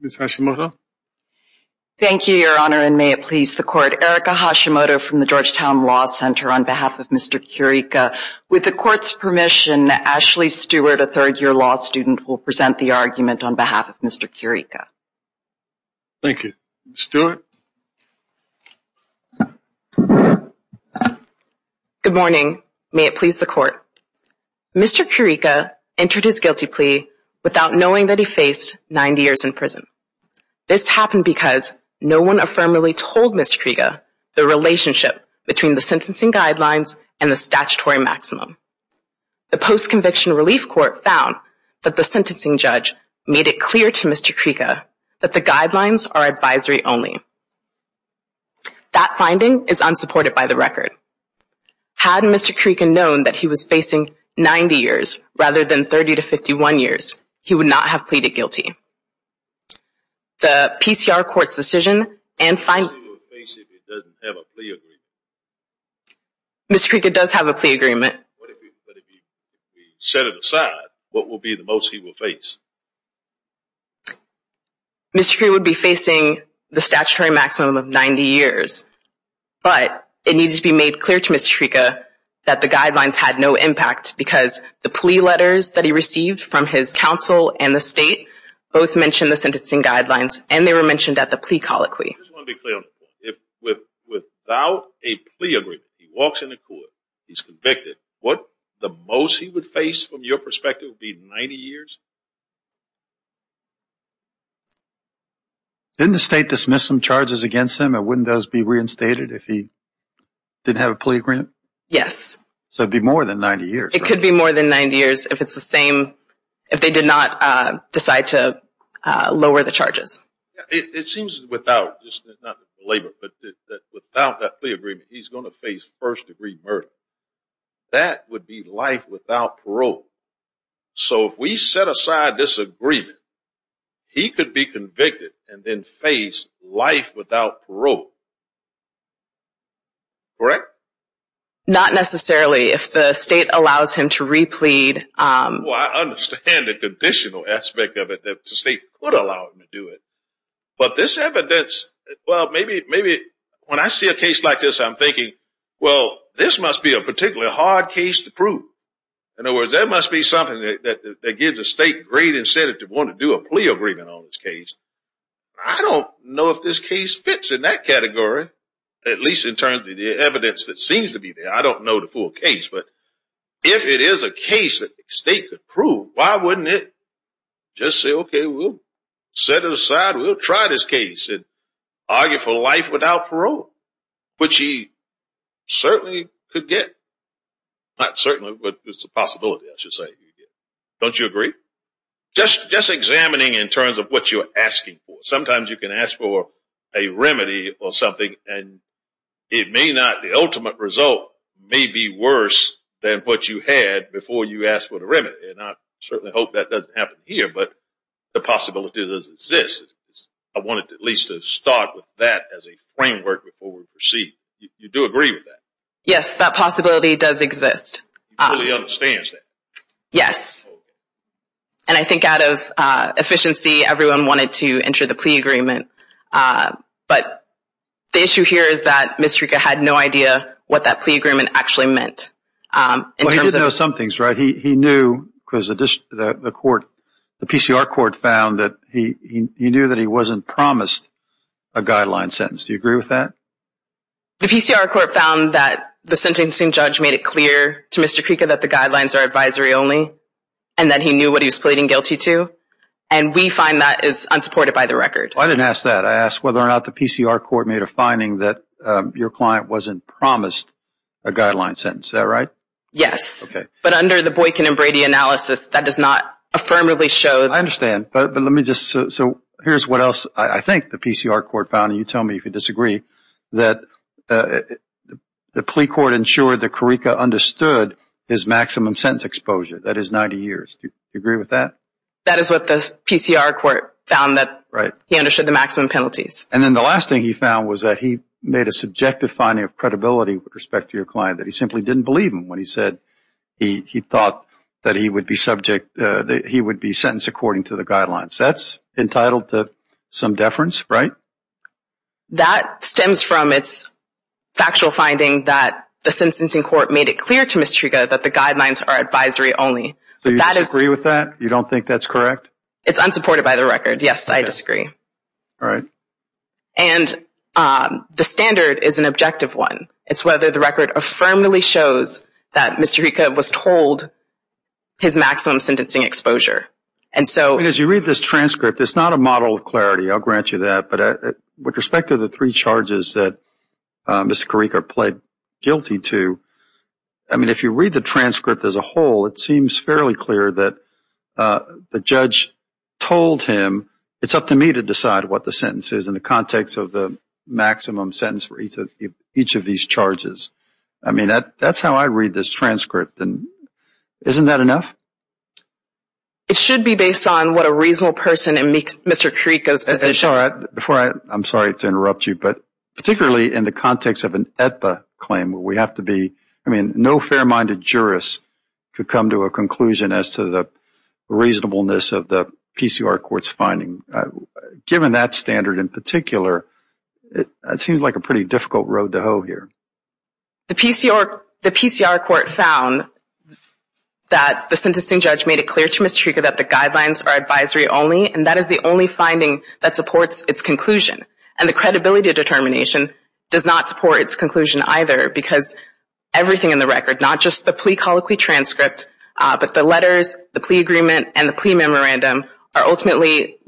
Ms. Hashimoto. Thank you, your honor, and may it please the court. Erica Hashimoto from the Georgetown Law Center on behalf of Mr. Currica. With the court's permission, Ashley Stewart, a third-year law student, will present the argument on behalf of Mr. Currica. Thank you. Stewart. Good morning. May it please the court. Mr. Currica entered his guilty plea without knowing that he faced 90 years in prison. This happened because no one affirmatively told Mr. Currica the relationship between the sentencing guidelines and the statutory maximum. The post-conviction relief court found that the sentencing judge made it clear to Mr. Currica that the guidelines are advisory only. That finding is years rather than 30 to 51 years. He would not have pleaded guilty. The PCR court's decision and Mr. Currica does have a plea agreement. Mr. Currica would be facing the statutory maximum of 90 years, but it needs to be made clear to Mr. Currica that the sentencing guidelines were mentioned at the plea colloquy. I just want to be clear on the point. If without a plea agreement, he walks in the court, he's convicted, what the most he would face from your perspective would be 90 years? Didn't the state dismiss some charges against him? It wouldn't those be years? It could be more than 90 years if it's the same if they did not decide to lower the charges. It seems without, not just the labor, but without that plea agreement, he's going to face first-degree murder. That would be life without parole. So if we set aside this agreement, he could be convicted and face life without parole. Correct? Not necessarily if the state allows him to replead. I understand the conditional aspect of it that the state could allow him to do it, but this evidence, well maybe when I see a case like this, I'm thinking, well this must be a particularly hard case to prove. In other words, that must be something that gives the state great incentive to want to do a plea agreement on this case. I don't know if this case fits in that category, at least in terms of the evidence that seems to be there. I don't know the full case, but if it is a case that the state could prove, why wouldn't it just say, okay, we'll set it aside, we'll try this case and argue for life without parole, which he certainly could get. Not certainly, but it's a possibility, I should say. Don't you agree? Just examining in terms of what you're asking for. Sometimes you can ask for a remedy or something and it may not, the ultimate result may be worse than what you had before you asked for the remedy. And I certainly hope that doesn't happen here, but the possibility does exist. I wanted at least to start with that as a framework before we proceed. You do agree with that? Yes, that possibility does exist. He fully understands that? Yes. And I think out of efficiency, everyone wanted to enter the plea agreement. But the issue here is that Mr. Creca had no idea what that plea agreement actually meant. Well, he did know some things, right? He knew because the court, the PCR court found that he knew that he wasn't promised a guideline sentence. Do you agree with that? The PCR court found that the sentencing judge made it clear to Mr. Creca that the guidelines are advisory only and that he knew what he was pleading guilty to. And we find that is unsupported by the record. I didn't ask that. I asked whether or not the PCR court made a finding that your client wasn't promised a guideline sentence. Is that right? Yes. But under the Boykin and Brady analysis, that does not affirmatively show. I understand. But let me just, so here's what else I think the PCR court found, and you tell me if you disagree, that the plea court ensured that Creca understood his That is what the PCR court found that he understood the maximum penalties. And then the last thing he found was that he made a subjective finding of credibility with respect to your client, that he simply didn't believe him when he said he thought that he would be subject, that he would be sentenced according to the guidelines. That's entitled to some deference, right? That stems from its factual finding that the sentencing court made it clear to Mr. Creca that the guidelines are advisory only. So you disagree with that? You don't think that's correct? It's unsupported by the record. Yes, I disagree. All right. And the standard is an objective one. It's whether the record affirmatively shows that Mr. Creca was told his maximum sentencing exposure. And so as you read this transcript, it's not a model of clarity. I'll grant you that. But with respect to the three charges that Mr. Creca pled guilty to, I mean, if you read the transcript as a whole, it seems fairly clear that the judge told him, it's up to me to decide what the sentence is in the context of the maximum sentence for each of each of these charges. I mean, that's how I read this transcript. And isn't that enough? It should be based on what a reasonable person in Mr. Creca's position. Before I, I'm sorry to interrupt you, but particularly in the context of an Aetba claim, we have to be, I mean, no fair minded jurist could come to a conclusion as to the reasonableness of the PCR court's finding. Given that standard in particular, it seems like a pretty difficult road to hoe here. The PCR court found that the sentencing judge made it clear to Mr. Creca that the guidelines are advisory only. And that is the only finding that supports its conclusion. And the credibility of determination does not support its conclusion either, because everything in the record, not just the plea colloquy transcript, but the letters, the plea agreement, and the plea memorandum are ultimately,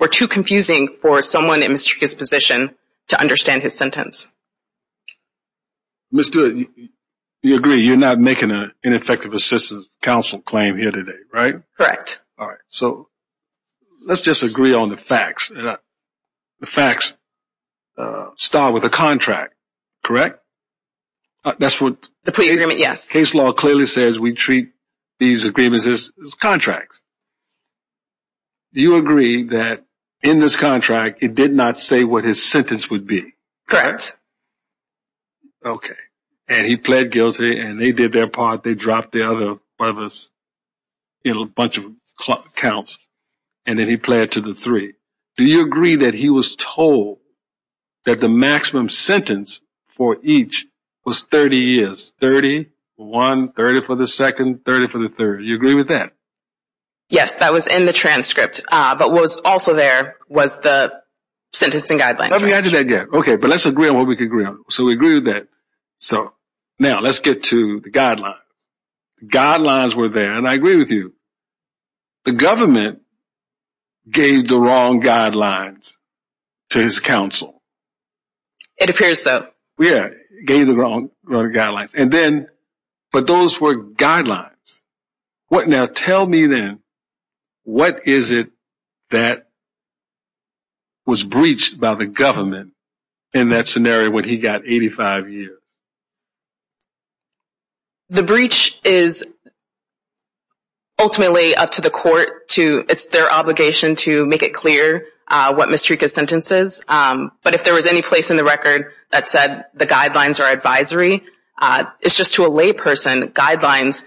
were too confusing for someone in Mr. Creca's position to understand his sentence. Ms. Stewart, you agree you're not making an ineffective assistance counsel claim here today, right? Correct. All right. So let's just agree on the facts. The facts start with a contract, correct? That's what the plea agreement, yes. Case law clearly says we treat these agreements as contracts. Do you agree that in this contract, it did not say what his sentence would be? Correct. Okay. And he pled guilty and they did their part. They dropped the other brothers, you know, a bunch of counts, and then he pled to the three. Do you agree that he was told that the maximum sentence for each was 30 years? 30 for one, 30 for the second, 30 for the third. You agree with that? Yes, that was in the transcript. But what was also there was the sentencing guidelines. Okay. But let's agree on what we can agree on. So we agree with that. So now let's get to the guidelines. Guidelines were there, and I agree with you. The government gave the wrong guidelines to his counsel. It appears so. Yeah. Gave the wrong guidelines. But those were guidelines. Now tell me then, what is it that was breached by the government in that scenario when he got 85 years? The breach is ultimately up to the court to, it's their obligation to make it clear what Mrika's sentence is. But if there was any place in the record that said the guidelines are advisory, it's just to a lay person, guidelines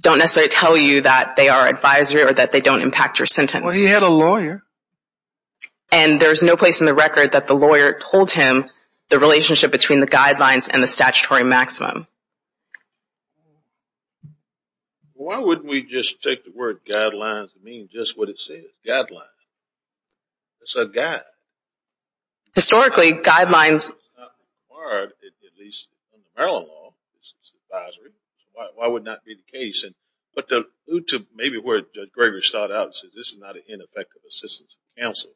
don't necessarily tell you that they are advisory or that they don't impact your sentence. Well, he had a lawyer. And there's no place in the record that the lawyer told him the relationship between the guidelines and the statutory maximum. Why wouldn't we just take the word guidelines and mean just what it says, guidelines? It's a guide. Historically, guidelines... It's not required, at least in the Maryland law, it's advisory. So why would it not be the case? But to maybe where Judge Gregory started out and said this is not an ineffective assistance of counsel.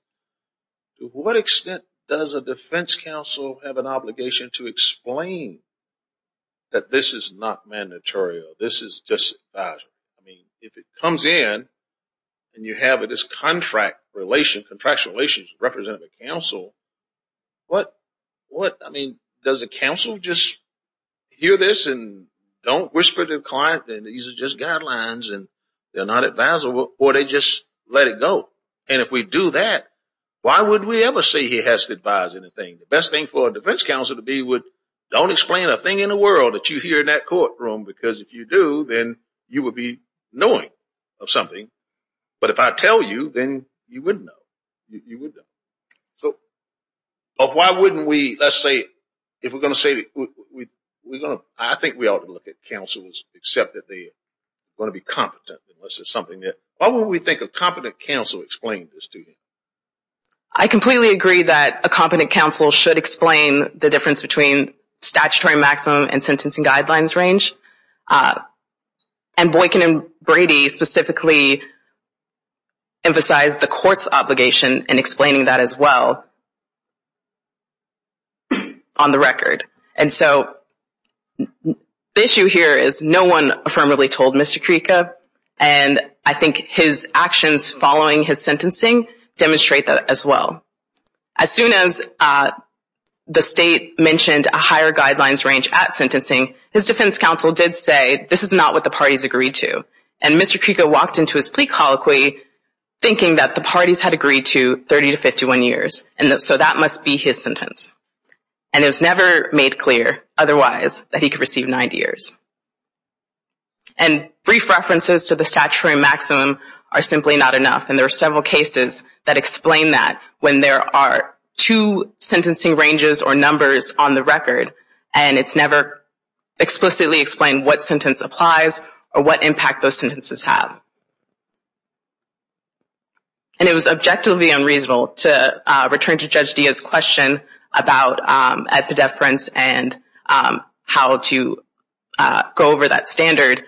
To what extent does a defense counsel have an obligation to explain that this is not mandatory or this is just advisory? I mean, if it comes in and you have this contract relation, contractual relationship represented by counsel, what? I mean, does the counsel just hear this and don't whisper to the client that these are just guidelines and they're not advisable or they just let it go? And if we do that, why would we ever say he has to advise anything? The best thing for a defense counsel to be would don't explain a thing in the world that you hear in that courtroom, because if you do, then you would be knowing of something. But if I tell you, then you wouldn't know. You wouldn't know. So why wouldn't we, let's say, if we're going to say we're going to... I think we ought to look at counsels, except that they're going to be competent, unless it's something that... Why wouldn't we think a competent counsel explained this to you? I completely agree that a competent counsel should explain the difference between statutory maximum and sentencing guidelines range. And Boykin and Brady specifically emphasize the court's obligation in explaining that as well on the record. And so the issue here is no one affirmably told Mr. Kreeca, and I think his actions following his sentencing demonstrate that as well. As soon as the state mentioned a higher guidelines range at sentencing, his defense counsel did say, this is not what the parties agreed to. And Mr. Kreeca walked into his plea colloquy thinking that the parties had agreed to 30 to 51 years. And so that must be his sentence. And it was never made clear otherwise that he could receive 90 years. And brief references to the statutory maximum are simply not enough. And there are several cases that explain that when there are two sentencing ranges or numbers on the record, and it's never explicitly explained what sentence applies or what impact those sentences have. And it was objectively unreasonable to return to Judge Diaz's question about epidefference and how to go over that standard.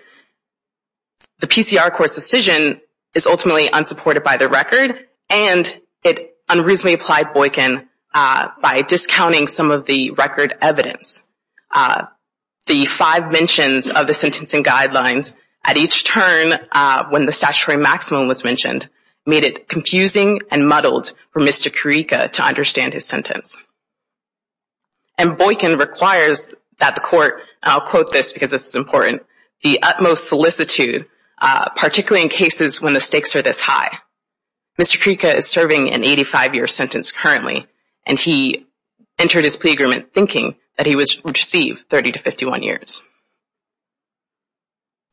The PCR court's decision is ultimately unsupported by the record, and it unreasonably applied Boykin by discounting some of the record evidence. The five mentions of the sentencing guidelines at each turn when the statutory maximum was mentioned made it confusing and muddled for Mr. Kreeca to understand his sentence. And Boykin requires that the court, I'll quote this because this is important, the utmost solicitude, particularly in cases when the stakes are this high. Mr. Kreeca is serving an 85-year sentence currently, and he entered his plea agreement thinking that he would receive 30 to 51 years.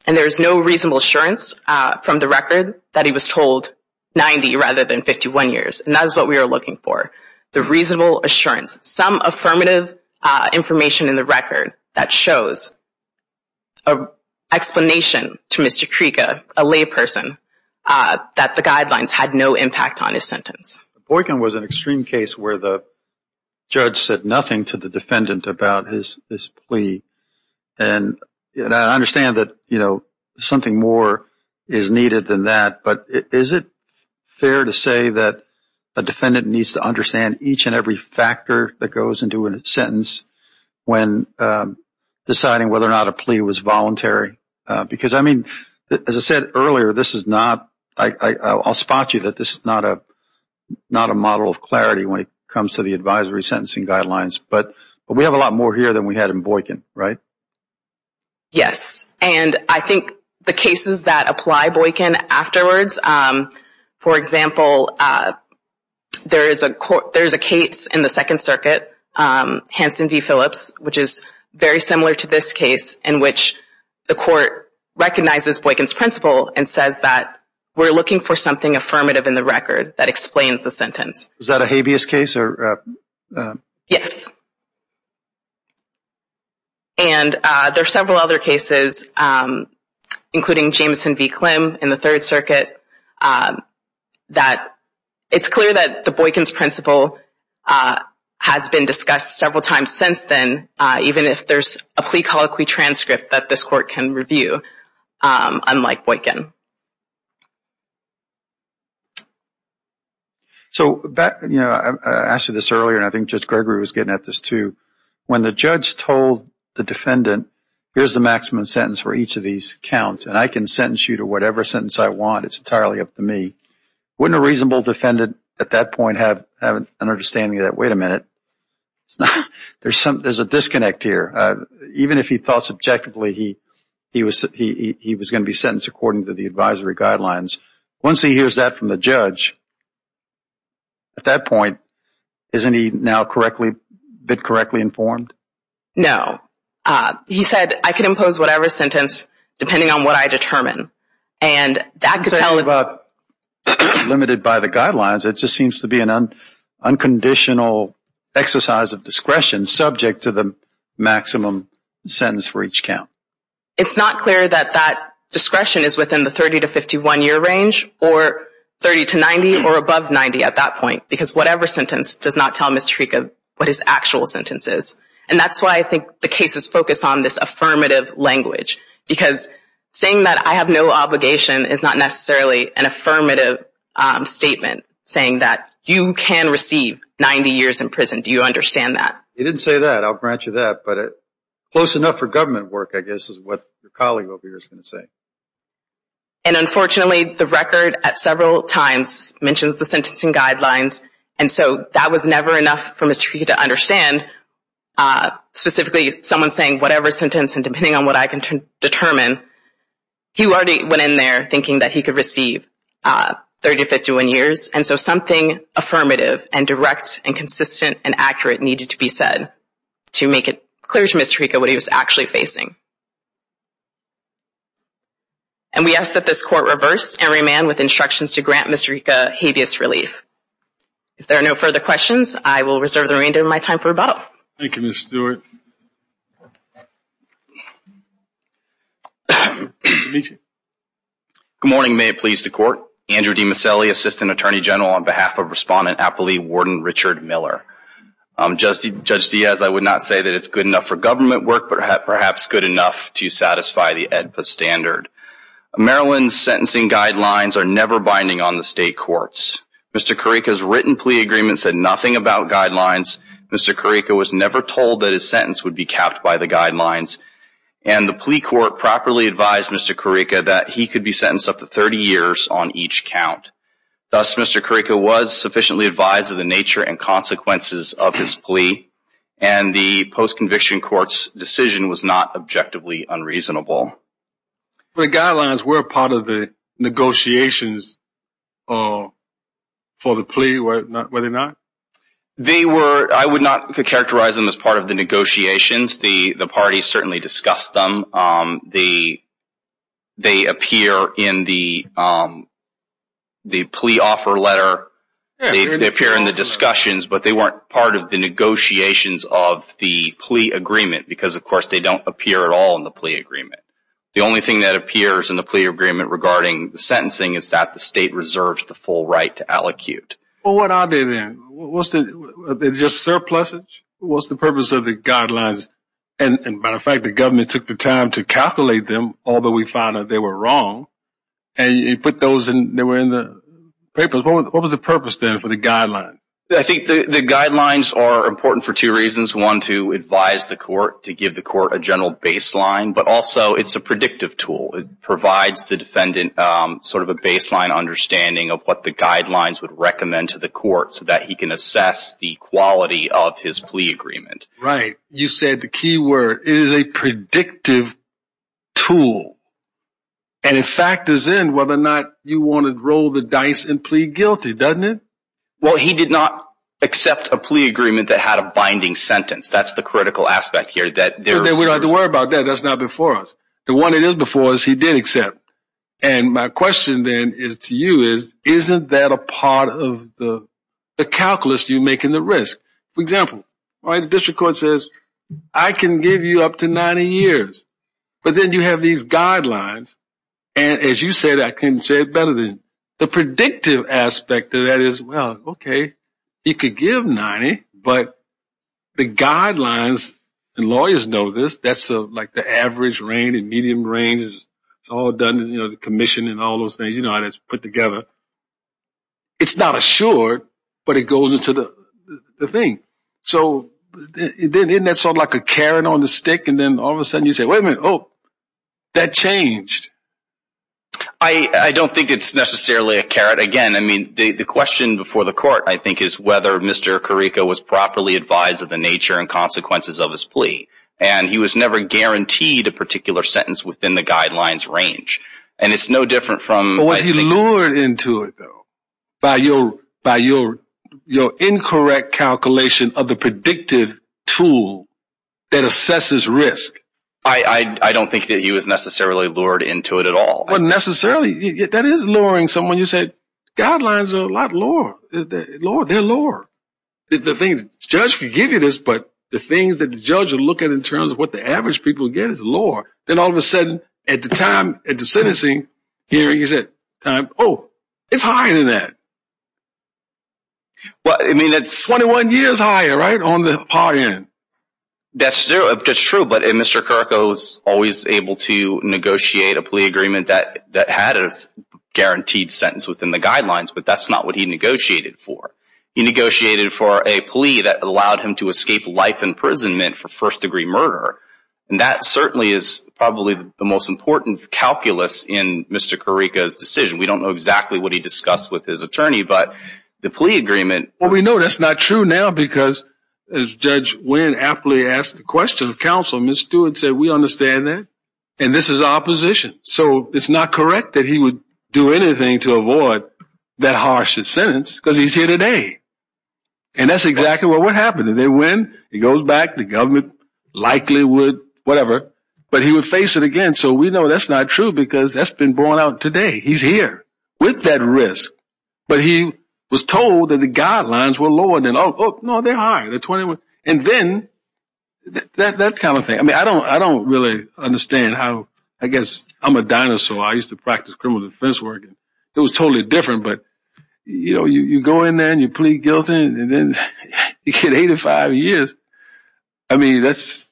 And there is no reasonable assurance from the record that he was told 90 rather than 51 years. And that is what we are looking for, the reasonable assurance, some affirmative information in the record that shows an explanation to Mr. Kreeca, a layperson, that the guidelines had no impact on his sentence. Boykin was an extreme case where the judge said nothing to the defendant about his plea. And I understand that something more is needed than that, but is it fair to say that a defendant needs to understand each and every factor that goes into a sentence when deciding whether or not a plea was voluntary? Because I said earlier, this is not, I'll spot you that this is not a model of clarity when it comes to the advisory sentencing guidelines. But we have a lot more here than we had in Boykin, right? Yes. And I think the cases that apply Boykin afterwards, for example, there is a case in the Second Circuit, Hanson v. Phillips, which is very similar to this case in which the court recognizes Boykin's principle and says that we're looking for something affirmative in the record that explains the sentence. Is that a habeas case? Yes. And there are several other cases, including Jameson v. Klim in the Third Circuit, that it's clear that the Boykin's principle has been discussed several times since then, even if there's a plea colloquy transcript that this court can review, unlike Boykin. So I asked you this earlier, and I think Judge Gregory was getting at this too. When the judge told the defendant, here's the maximum sentence for each of these counts, and I can sentence you to whatever sentence I want, it's entirely up to me, wouldn't a reasonable defendant at that point have an understanding that, wait a minute, it's not, there's a disconnect here. Even if he thought subjectively he was going to be sentenced according to the advisory guidelines, once he hears that from the judge, at that point, isn't he now correctly, been correctly informed? No. He said, I can impose whatever sentence depending on what I determine. And that could tell him about... exercise of discretion, subject to the maximum sentence for each count. It's not clear that that discretion is within the 30 to 51 year range, or 30 to 90, or above 90 at that point, because whatever sentence does not tell Mr. Tariqa what his actual sentence is. And that's why I think the case is focused on this affirmative language, because saying that I have no obligation is not necessarily an affirmative statement, saying that you can receive 90 years in prison, do you understand that? You didn't say that, I'll grant you that, but close enough for government work, I guess, is what your colleague over here is going to say. And unfortunately, the record at several times mentions the sentencing guidelines, and so that was never enough for Mr. Tariqa to understand, specifically someone saying whatever sentence, and depending on what I can determine, he already went in there thinking that he could receive 30 to 51 years. And so something affirmative, and direct, and consistent, and accurate needed to be said to make it clear to Mr. Tariqa what he was actually facing. And we ask that this court reverse and remand with instructions to grant Mr. Tariqa habeas relief. If there are no further questions, I will reserve the remainder of my time for rebuttal. Thank you, Mr. Stewart. Good morning, may it please the court. Andrew DiMasselli, Assistant Attorney General on behalf of Respondent Appley Warden Richard Miller. Judge Diaz, I would not say that it's good enough for government work, but perhaps good enough to satisfy the AEDPA standard. Maryland's sentencing guidelines are never binding on the state courts. Mr. Tariqa's written plea agreement said nothing about guidelines. Mr. Tariqa was never told that his sentence would be capped by the guidelines. And the plea court properly advised Mr. Tariqa that he could be sentenced up to 30 years on each count. Thus, Mr. Tariqa was sufficiently advised of the nature and consequences of his plea, and the post-conviction court's decision was not objectively unreasonable. The guidelines were part of the negotiations for the plea, were they not? They were, I would not characterize them as part of the negotiations. The parties certainly discussed them. They appear in the plea offer letter, they appear in the discussions, but they weren't part of the negotiations of the plea agreement, because of course they don't appear at all in the plea agreement. The only thing that appears in the plea agreement regarding the sentencing is that the state reserves the full right to allocute. Well, what are they then? Was it just surpluses? What's the purpose of the guidelines? And matter of fact, the government took the time to calculate them, although we found that they were wrong. And you put those in, they were in the papers. What was the purpose then for the guidelines? I think the guidelines are important for two reasons. One, to advise the court, to give the court a general baseline, but also it's a predictive tool. It provides the defendant sort of a baseline understanding of what the guidelines would recommend to the court, so that he can assess the quality of his plea agreement. Right. You said the key word is a predictive tool. And it factors in whether or not you want to roll the dice and plea guilty, doesn't it? Well, he did not accept a plea agreement that had a binding sentence. That's the critical aspect here. We don't have to worry about that. That's not before us. The one that is before us, he did accept. And my question then to you is, isn't that a part of the calculus you make in the risk? For example, the district court says, I can give you up to 90 years. But then you have these guidelines. And as you said, I couldn't say it better than you. The predictive aspect of that is, well, OK, you could give 90. But the guidelines, and lawyers know this, that's like the average range, it's all done, the commission and all those things, it's put together. It's not assured, but it goes into the thing. So isn't that sort of like a carrot on the stick? And then all of a sudden you say, wait a minute, oh, that changed. I don't think it's necessarily a carrot. Again, I mean, the question before the court, I think, is whether Mr. Carrico was properly advised of the nature and consequences of his plea. And he was never guaranteed a particular sentence within the guidelines range. And it's no different from- But was he lured into it, though? By your incorrect calculation of the predictive tool that assesses risk? I don't think that he was necessarily lured into it at all. Well, necessarily, that is luring someone. You said, guidelines are a lot lower. They're lower. The thing is, the judge can give you this, but the things that the judge will look at in terms of what the average people get is lower. Then all of a sudden, at the time, at the sentencing hearing, you said, time, oh, it's higher than that. Well, I mean, it's- 21 years higher, right, on the par end. That's true, that's true. But Mr. Carrico was always able to negotiate a plea agreement that had a guaranteed sentence within the guidelines, but that's not what he negotiated for. He negotiated for a plea that allowed him to escape life imprisonment for first-degree murder. And that certainly is probably the most important calculus in Mr. Carrico's decision. We don't know exactly what he discussed with his attorney, but the plea agreement- Well, we know that's not true now because, as Judge Wynn aptly asked the question of counsel, Ms. Stewart said, we understand that, and this is opposition. So it's not correct that he would do anything to avoid that harsher sentence because he's here today. And that's exactly what happened. And then when he goes back, the government likely would, whatever, but he would face it again. So we know that's not true because that's been borne out today. He's here with that risk. But he was told that the guidelines were lower than- Oh, no, they're high, they're 21. And then, that kind of thing. I mean, I don't really understand how, I guess, I'm a dinosaur. I used to practice criminal defense work. It was totally different. But, you know, you go in there and you plead guilty, and then you get 85 years. I mean, that's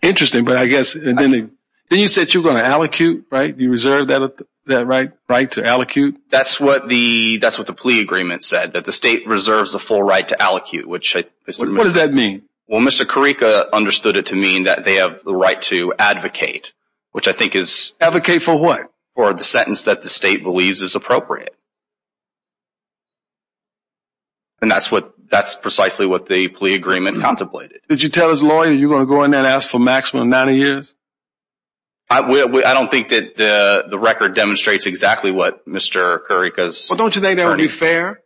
interesting. But I guess, and then you said you were going to allocute, right? You reserved that right to allocute? That's what the plea agreement said, that the state reserves the full right to allocute, which- What does that mean? Well, Mr. Carrico understood it to mean that they have the right to advocate, which I think is- Advocate for what? For the sentence that the state believes is appropriate. And that's precisely what the plea agreement contemplated. Did you tell his lawyer you're going to go in there and ask for maximum 90 years? I don't think that the record demonstrates exactly what Mr. Carrico's- Well, don't you think that would be fair?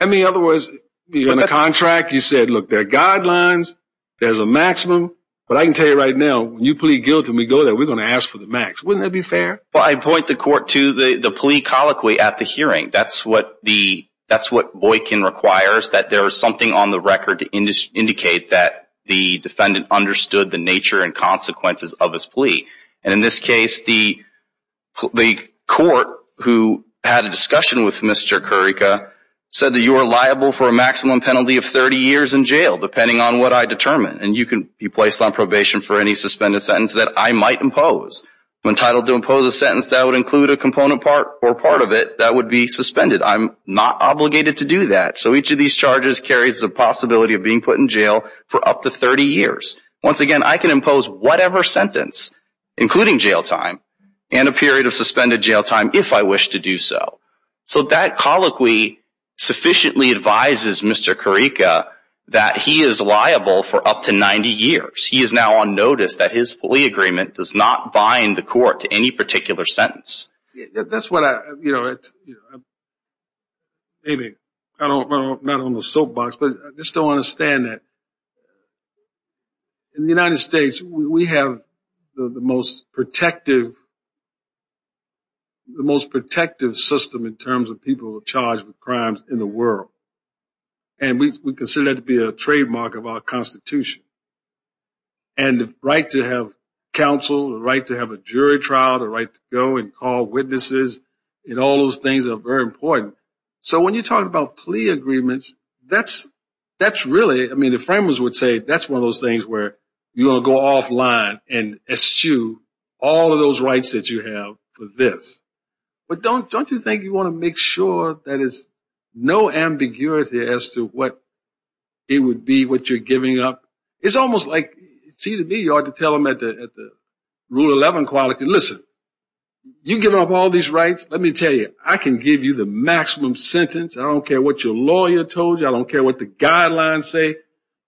I mean, in other words, you're in a contract. You said, look, there are guidelines. There's a maximum. But I can tell you right now, when you plead guilty and we go there, we're going to ask for the max. Wouldn't that be fair? Well, I point the court to the plea colloquy at the hearing. That's what the- That's what Boykin requires, that there is something on the record to indicate that the defendant understood the nature and consequences of his plea. And in this case, the court who had a discussion with Mr. Carrico said that you are liable for a maximum penalty of 30 years in jail, depending on what I determine. And you can be placed on probation for any suspended sentence that I might impose. I'm entitled to impose a sentence that would include a component part or part of it that would be suspended. I'm not obligated to do that. So each of these charges carries the possibility of being put in jail for up to 30 years. Once again, I can impose whatever sentence, including jail time and a period of suspended jail time if I wish to do so. So that colloquy sufficiently advises Mr. Carrico that he is liable for up to 90 years. He is now on notice that his plea agreement does not bind the court to any particular sentence. That's what I, you know, maybe I'm not on the soapbox, but I just don't understand that. In the United States, we have the most protective, the most protective system in terms of people charged with crimes in the world. And we consider that to be a trademark of our Constitution. And the right to have counsel, the right to have a jury trial, the right to go and call witnesses, and all those things are very important. So when you're talking about plea agreements, that's really, I mean, the framers would say that's one of those things where you're going to go offline and eschew all of those rights that you have for this. But don't you think you want to make sure that there's no ambiguity as to what it would be, what you're giving up? It's almost like, see to me, you ought to tell them at the Rule 11 quality, listen, you give up all these rights, let me tell you, I can give you the maximum sentence. I don't care what your lawyer told you. I don't care what the guidelines say.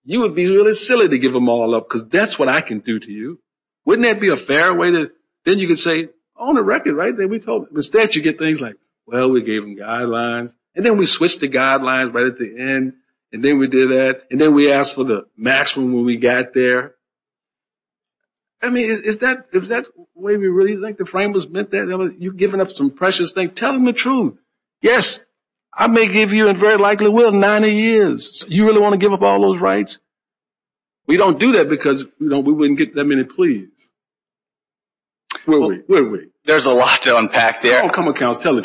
You would be really silly to give them all up because that's what I can do to you. Wouldn't that be a fair way to, then you can say, on the record, right? Then we told the statute, you get things like, well, we gave them guidelines. And then we switched the guidelines right at the end. And then we did that. And then we asked for the maximum when we got there. I mean, is that the way we really think the framers meant that? You're giving up some precious things. Tell them the truth. Yes, I may give you, and very likely will, 90 years. You really want to give up all those rights? We don't do that because we wouldn't get that many pleas. Will we? Will we? There's a lot to unpack there. I don't come across telling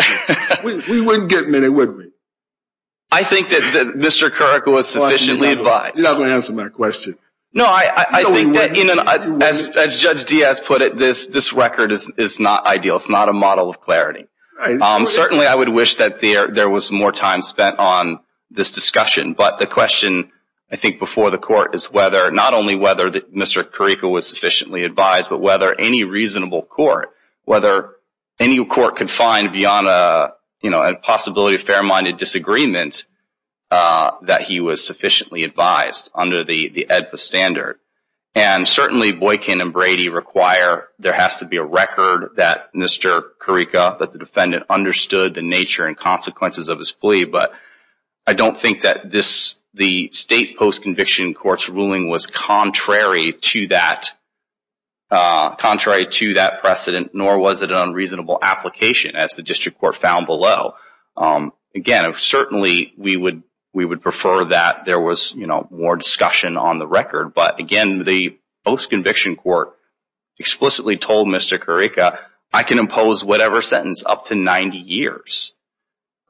you. We wouldn't get many, would we? I think that Mr. Carrico was sufficiently advised. You're not going to answer my question. No, I think that, as Judge Diaz put it, this record is not ideal. It's not a model of clarity. Certainly, I would wish that there was more time spent on this discussion. But the question, I think, before the court is whether, not only whether Mr. Carrico was sufficiently advised, but whether any reasonable court, whether any court could find beyond a possibility of fair-minded disagreement that he was sufficiently advised under the AEDPA standard. And certainly, Boykin and Brady require there has to be a record that Mr. Carrico, that the defendant understood the nature and consequences of his plea. But I don't think that the state post-conviction court's ruling was contrary to that precedent, nor was it an unreasonable application, as the district court found below. Again, certainly, we would prefer that there was more discussion on the record. But again, the post-conviction court explicitly told Mr. Carrico, I can impose whatever sentence up to 90 years,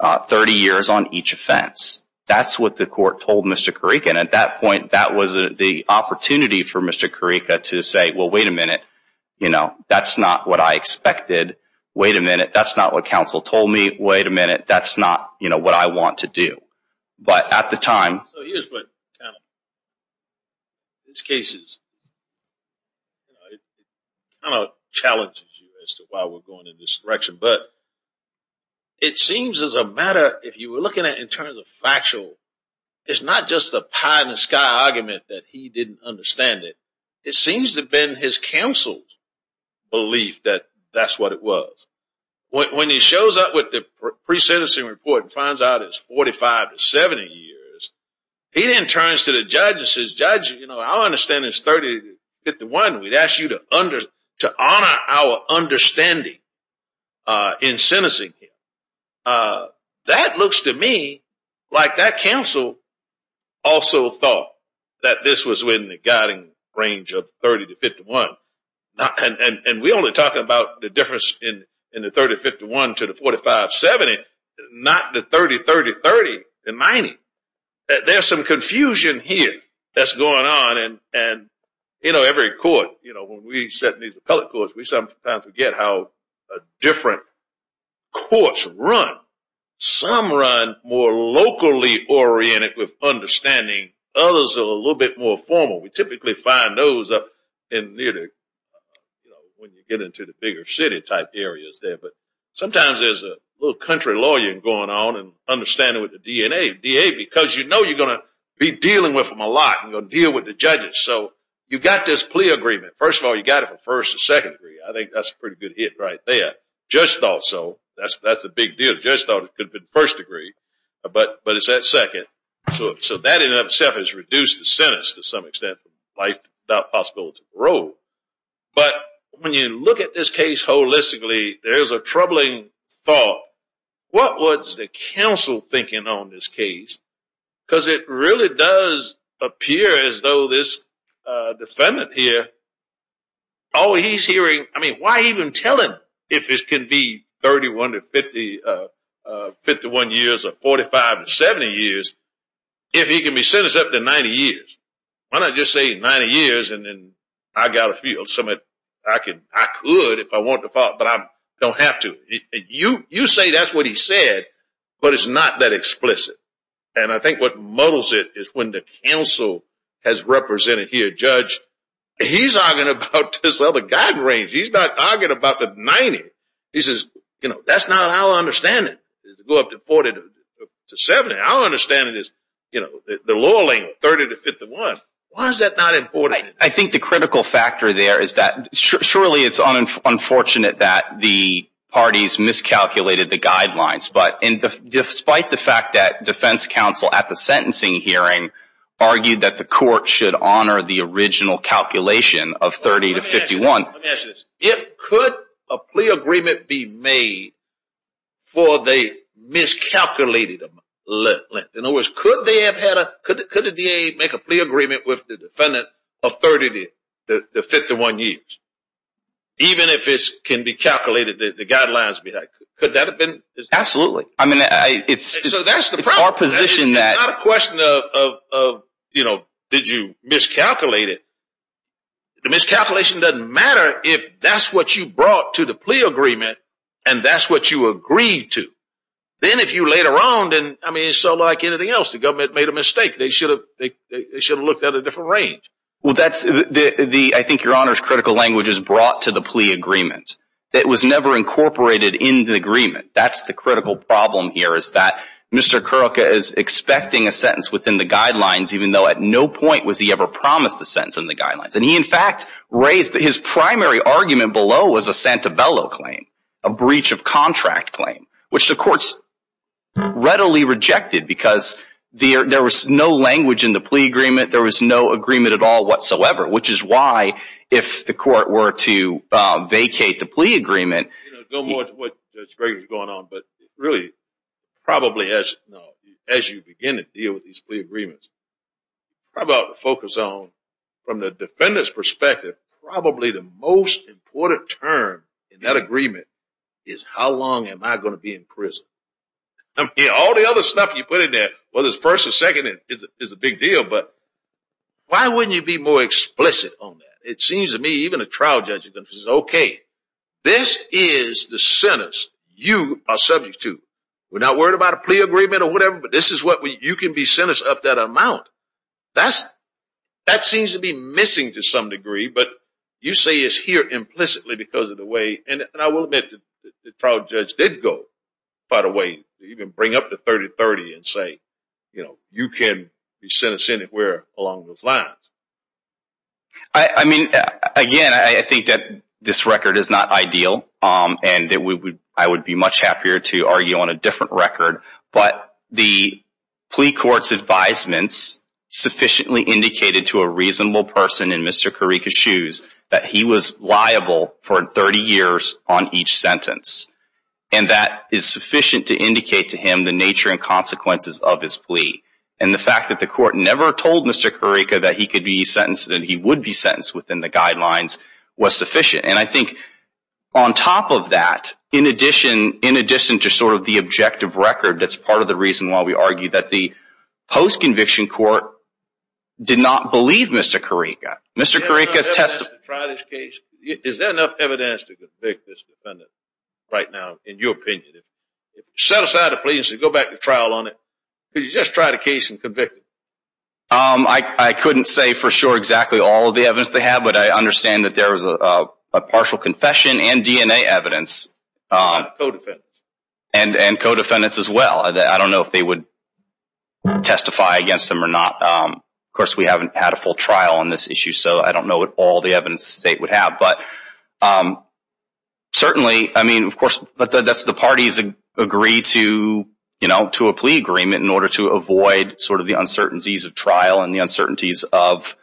30 years on each offense. That's what the court told Mr. Carrico. And at that point, that was the opportunity for Mr. Carrico to say, well, wait a minute, that's not what I expected. Wait a minute, that's not what counsel told me. Wait a minute, that's not what I want to do. But at the time, So here's what kind of challenges you as to why we're going in this direction. But it seems as a matter, if you were looking at it in terms of factual, it's not just a pie-in-the-sky argument that he didn't understand it. It seems to have been his counsel's belief that that's what it was. When he shows up with the pre-sentencing report and finds out it's 45 to 70 years, he then turns to the judge and says, Judge, our understanding is 30 to 51. We'd ask you to honor our understanding in sentencing him. That looks to me like that counsel also thought that this was within the guiding range of 30 to 51. And we only talk about the difference in the 30, 51 to the 45, 70, not the 30, 30, 30, and 90. There's some confusion here that's going on. And every court, when we sit in these appellate courts, we sometimes forget how different courts run. Some run more locally oriented with understanding. Others are a little bit more formal. We typically find those when you get into the bigger city type areas there. But sometimes there's a little country lawyering going on and understanding with the DA. Because you know you're going to be dealing with them a lot and you're going to deal with the judges. So you've got this plea agreement. First of all, you got it for first and second degree. I think that's a pretty good hit right there. Judge thought so. That's a big deal. Judge thought it could have been first degree. But it's that second. So that in and of itself has reduced the sentence to some extent for life without possibility of parole. But when you look at this case holistically, there's a troubling thought. What was the counsel thinking on this case? Because it really does appear as though this defendant here, oh, he's hearing, I mean, why even tell him if this can be 31 to 50, 51 years or 45 to 70 years, if he can be sentenced up to 90 years. Why not just say 90 years and then I got a feel. So I could if I want to, but I don't have to. You say that's what he said, but it's not that explicit. And I think what muddles it is when the counsel has represented here. Judge, he's arguing about this other guy's range. He's not arguing about the 90. He says, that's not our understanding to go up to 40 to 70. Our understanding is the lower lane, 30 to 51. Why is that not important? I think the critical factor there is that surely it's unfortunate that the parties miscalculated the guidelines. But despite the fact that defense counsel at the sentencing hearing argued that the court should honor the original calculation of 30 to 51. It could a plea agreement be made for the miscalculated length. In other words, could the DA make a plea agreement with the defendant of 30 to 51 years? Even if it can be calculated, the guidelines could that have been? Absolutely. I mean, it's our position. It's not a question of, you know, did you miscalculate it? The miscalculation doesn't matter if that's what you brought to the plea agreement and that's what you agreed to. Then if you later on, I mean, so like anything else, the government made a mistake. They should have looked at a different range. Well, I think your honor's critical language is brought to the plea agreement. It was never incorporated in the agreement. That's the critical problem here is that Mr. Kuroka is expecting a sentence within the guidelines, even though at no point was he ever promised a sentence in the guidelines. He, in fact, raised that his primary argument below was a Santabello claim, a breach of contract claim, which the courts readily rejected because there was no language in the plea agreement. There was no agreement at all whatsoever, which is why if the court were to vacate the plea agreement. You know, go more to what Judge Gregg was going on, but really probably as you begin to deal with these plea agreements, probably ought to focus on, from the defendant's perspective, probably the most important term in that agreement is how long am I going to be in prison? I mean, all the other stuff you put in there, whether it's first or second is a big deal, but why wouldn't you be more explicit on that? It seems to me even a trial judge is going to say, okay, this is the sentence you are subject to. We're not worried about a plea agreement or whatever, but you can be sentenced up that amount. That seems to be missing to some degree, but you say it's here implicitly because of the way, and I will admit the trial judge did go by the way, even bring up the 30-30 and say, you know, you can be sentenced anywhere along those lines. I mean, again, I think that this record is not ideal, and I would be much happier to have a different record, but the plea court's advisements sufficiently indicated to a reasonable person in Mr. Karika's shoes that he was liable for 30 years on each sentence, and that is sufficient to indicate to him the nature and consequences of his plea, and the fact that the court never told Mr. Karika that he could be sentenced and that he would be sentenced within the guidelines was sufficient. And I think on top of that, in addition to sort of the objective record, that's part of the reason why we argue that the post-conviction court did not believe Mr. Karika. Is there enough evidence to convict this defendant right now, in your opinion? If you set aside a plea and said, go back to trial on it, could you just try the case and convict him? I couldn't say for sure exactly all of the evidence they have, but I understand that there is a partial confession and DNA evidence. And co-defendants. And co-defendants as well. I don't know if they would testify against him or not. Of course, we haven't had a full trial on this issue, so I don't know all the evidence the state would have. But certainly, I mean, of course, the parties agree to a plea agreement in order to avoid sort of the uncertainties of trial and the uncertainties of,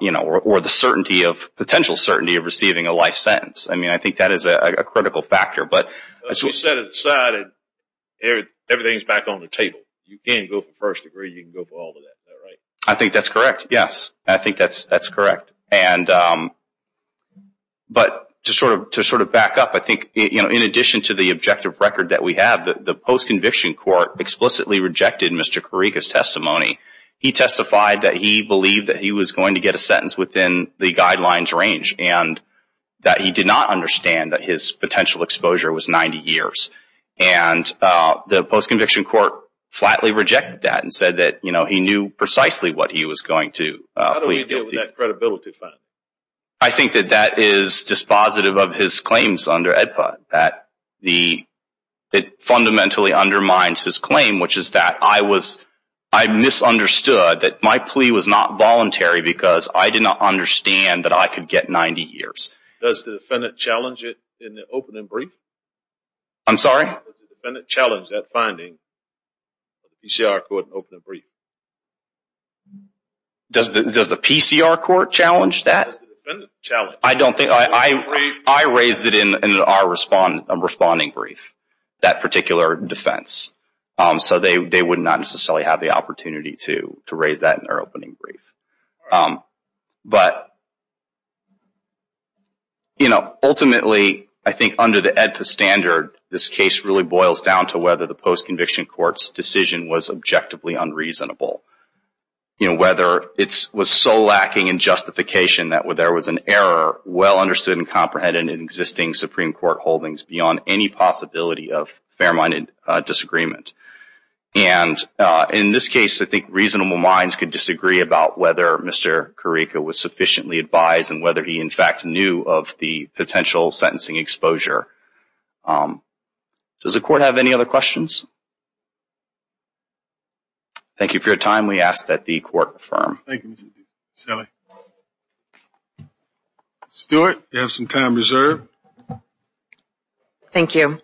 you know, or the certainty of, potential certainty of receiving a life sentence. I mean, I think that is a critical factor. But as you said, everything is back on the table. You can't go for first degree, you can go for all of that, right? I think that's correct, yes. I think that's correct. But to sort of back up, I think, you know, in addition to the objective record that we have, the post-conviction court explicitly rejected Mr. Karika's testimony. He testified that he believed that he was going to get a sentence within the guidelines range and that he did not understand that his potential exposure was 90 years. And the post-conviction court flatly rejected that and said that, you know, he knew precisely what he was going to plead guilty to. How do we deal with that credibility factor? I think that that is dispositive of his claims under EDPA. That the, it fundamentally undermines his claim, which is that I was, I misunderstood that my plea was not voluntary because I did not understand that I could get 90 years. Does the defendant challenge it in the open and brief? I'm sorry? Does the defendant challenge that finding of the PCR court in open and brief? Does the, does the PCR court challenge that? Does the defendant challenge it? I don't think, I raised it in our responding brief, that particular defense. So they would not necessarily have the opportunity to raise that in their opening brief. But, you know, ultimately, I think under the EDPA standard, this case really boils down to whether the post-conviction court's decision was objectively unreasonable. You know, whether it was so lacking in justification that there was an error well understood and comprehended in existing Supreme Court holdings beyond any possibility of fair-minded disagreement. And in this case, I think reasonable minds could disagree about whether Mr. Karika was sufficiently advised and whether he, in fact, knew of the potential sentencing exposure. Does the court have any other questions? Thank you for your time. We ask that the court confirm. Thank you, Mr. D. Sally. Stewart, you have some time reserved. Thank you.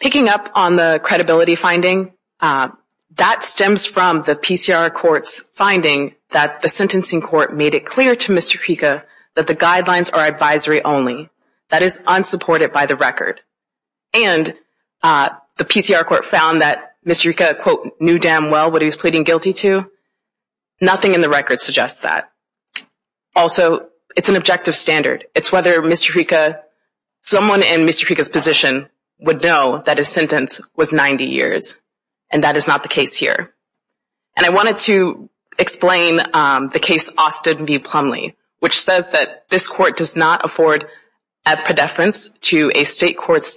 Picking up on the credibility finding, that stems from the PCR court's finding that the sentencing court made it clear to Mr. Karika that the guidelines are advisory only. That is unsupported by the record. And the PCR court found that Mr. Karika, quote, knew damn well what he was pleading guilty to. Nothing in the record suggests that. Also, it's an objective standard. It's whether Mr. Karika, someone in Mr. Karika's position would know that his sentence was 90 years, and that is not the case here. And I wanted to explain the case Austin v. Plumlee, which says that this court does not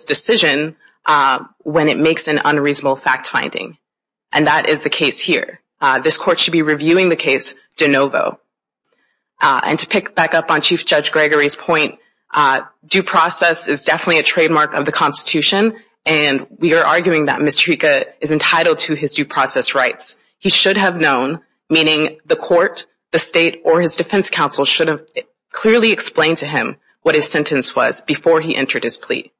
decision when it makes an unreasonable fact finding. And that is the case here. This court should be reviewing the case de novo. And to pick back up on Chief Judge Gregory's point, due process is definitely a trademark of the Constitution. And we are arguing that Mr. Karika is entitled to his due process rights. He should have known, meaning the court, the state, or his defense counsel should have clearly explained to him what his sentence was before he entered his plea.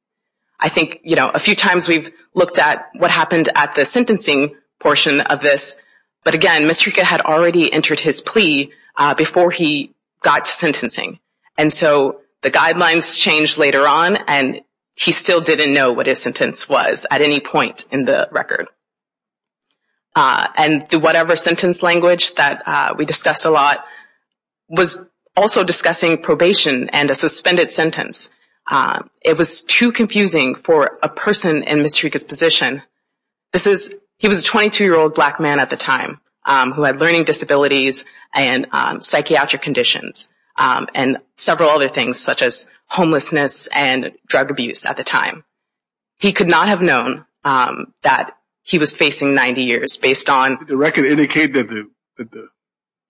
I think, you know, a few times we've looked at what happened at the sentencing portion of this. But again, Mr. Karika had already entered his plea before he got to sentencing. And so the guidelines changed later on, and he still didn't know what his sentence was at any point in the record. And the whatever sentence language that we discussed a lot was also discussing probation and a suspended sentence. It was too confusing for a person in Mr. Karika's position. He was a 22-year-old black man at the time who had learning disabilities and psychiatric conditions and several other things such as homelessness and drug abuse at the time. He could not have known that he was facing 90 years based on- Did the record indicate that the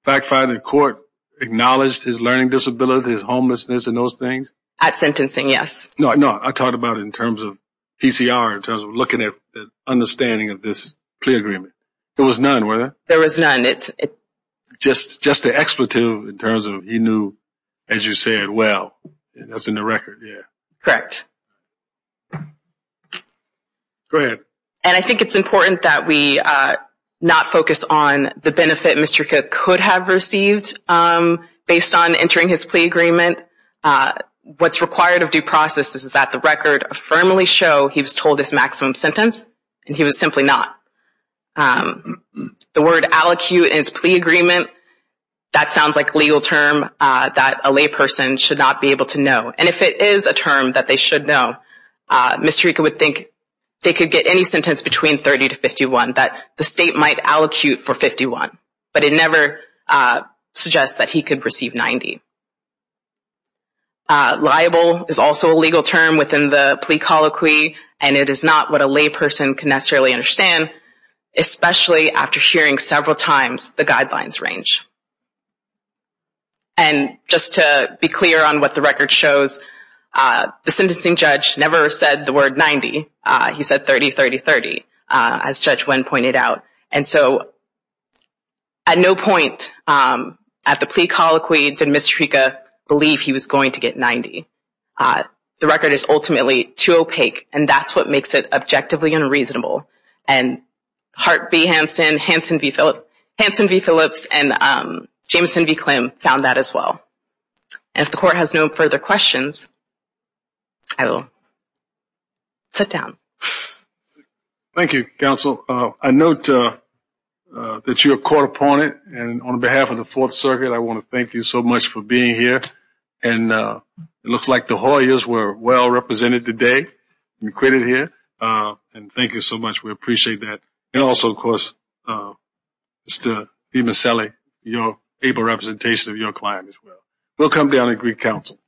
fact finding court acknowledged his learning disability, his homelessness, and those things? At sentencing, yes. No, no, I talked about it in terms of PCR, in terms of looking at the understanding of this plea agreement. There was none, was there? There was none. Just the expletive in terms of he knew, as you said, well, that's in the record, yeah. Correct. Go ahead. And I think it's important that we not focus on the benefit Mr. Karika could have received based on entering his plea agreement. What's required of due process is that the record firmly show he was told his maximum sentence and he was simply not. The word allocute in his plea agreement, that sounds like a legal term that a layperson should not be able to know. And if it is a term that they should know, Mr. Karika would think they could get any sentence between 30 to 51, that the state might allocute for 51, but it never suggests that he could receive 90. Liable is also a legal term within the plea colloquy, and it is not what a layperson can necessarily understand, especially after hearing several times the guidelines range. And just to be clear on what the record shows, the sentencing judge never said the word 90. He said 30, 30, 30, as Judge Wen pointed out. And so at no point at the plea colloquy did Mr. Karika believe he was going to get 90. The record is ultimately too opaque, and that's what makes it objectively unreasonable. And Hart v. Hanson, Hanson v. Phillips, and Jameson v. Klim found that as well. And if the court has no further questions, I will sit down. Thank you, counsel. I note that you're a court opponent. And on behalf of the Fourth Circuit, I want to thank you so much for being here. And it looks like the Hoyas were well represented today and created here. And thank you so much. We appreciate that. And also, of course, Mr. Demasele, your able representation of your client as well. We'll come down and greet counsel.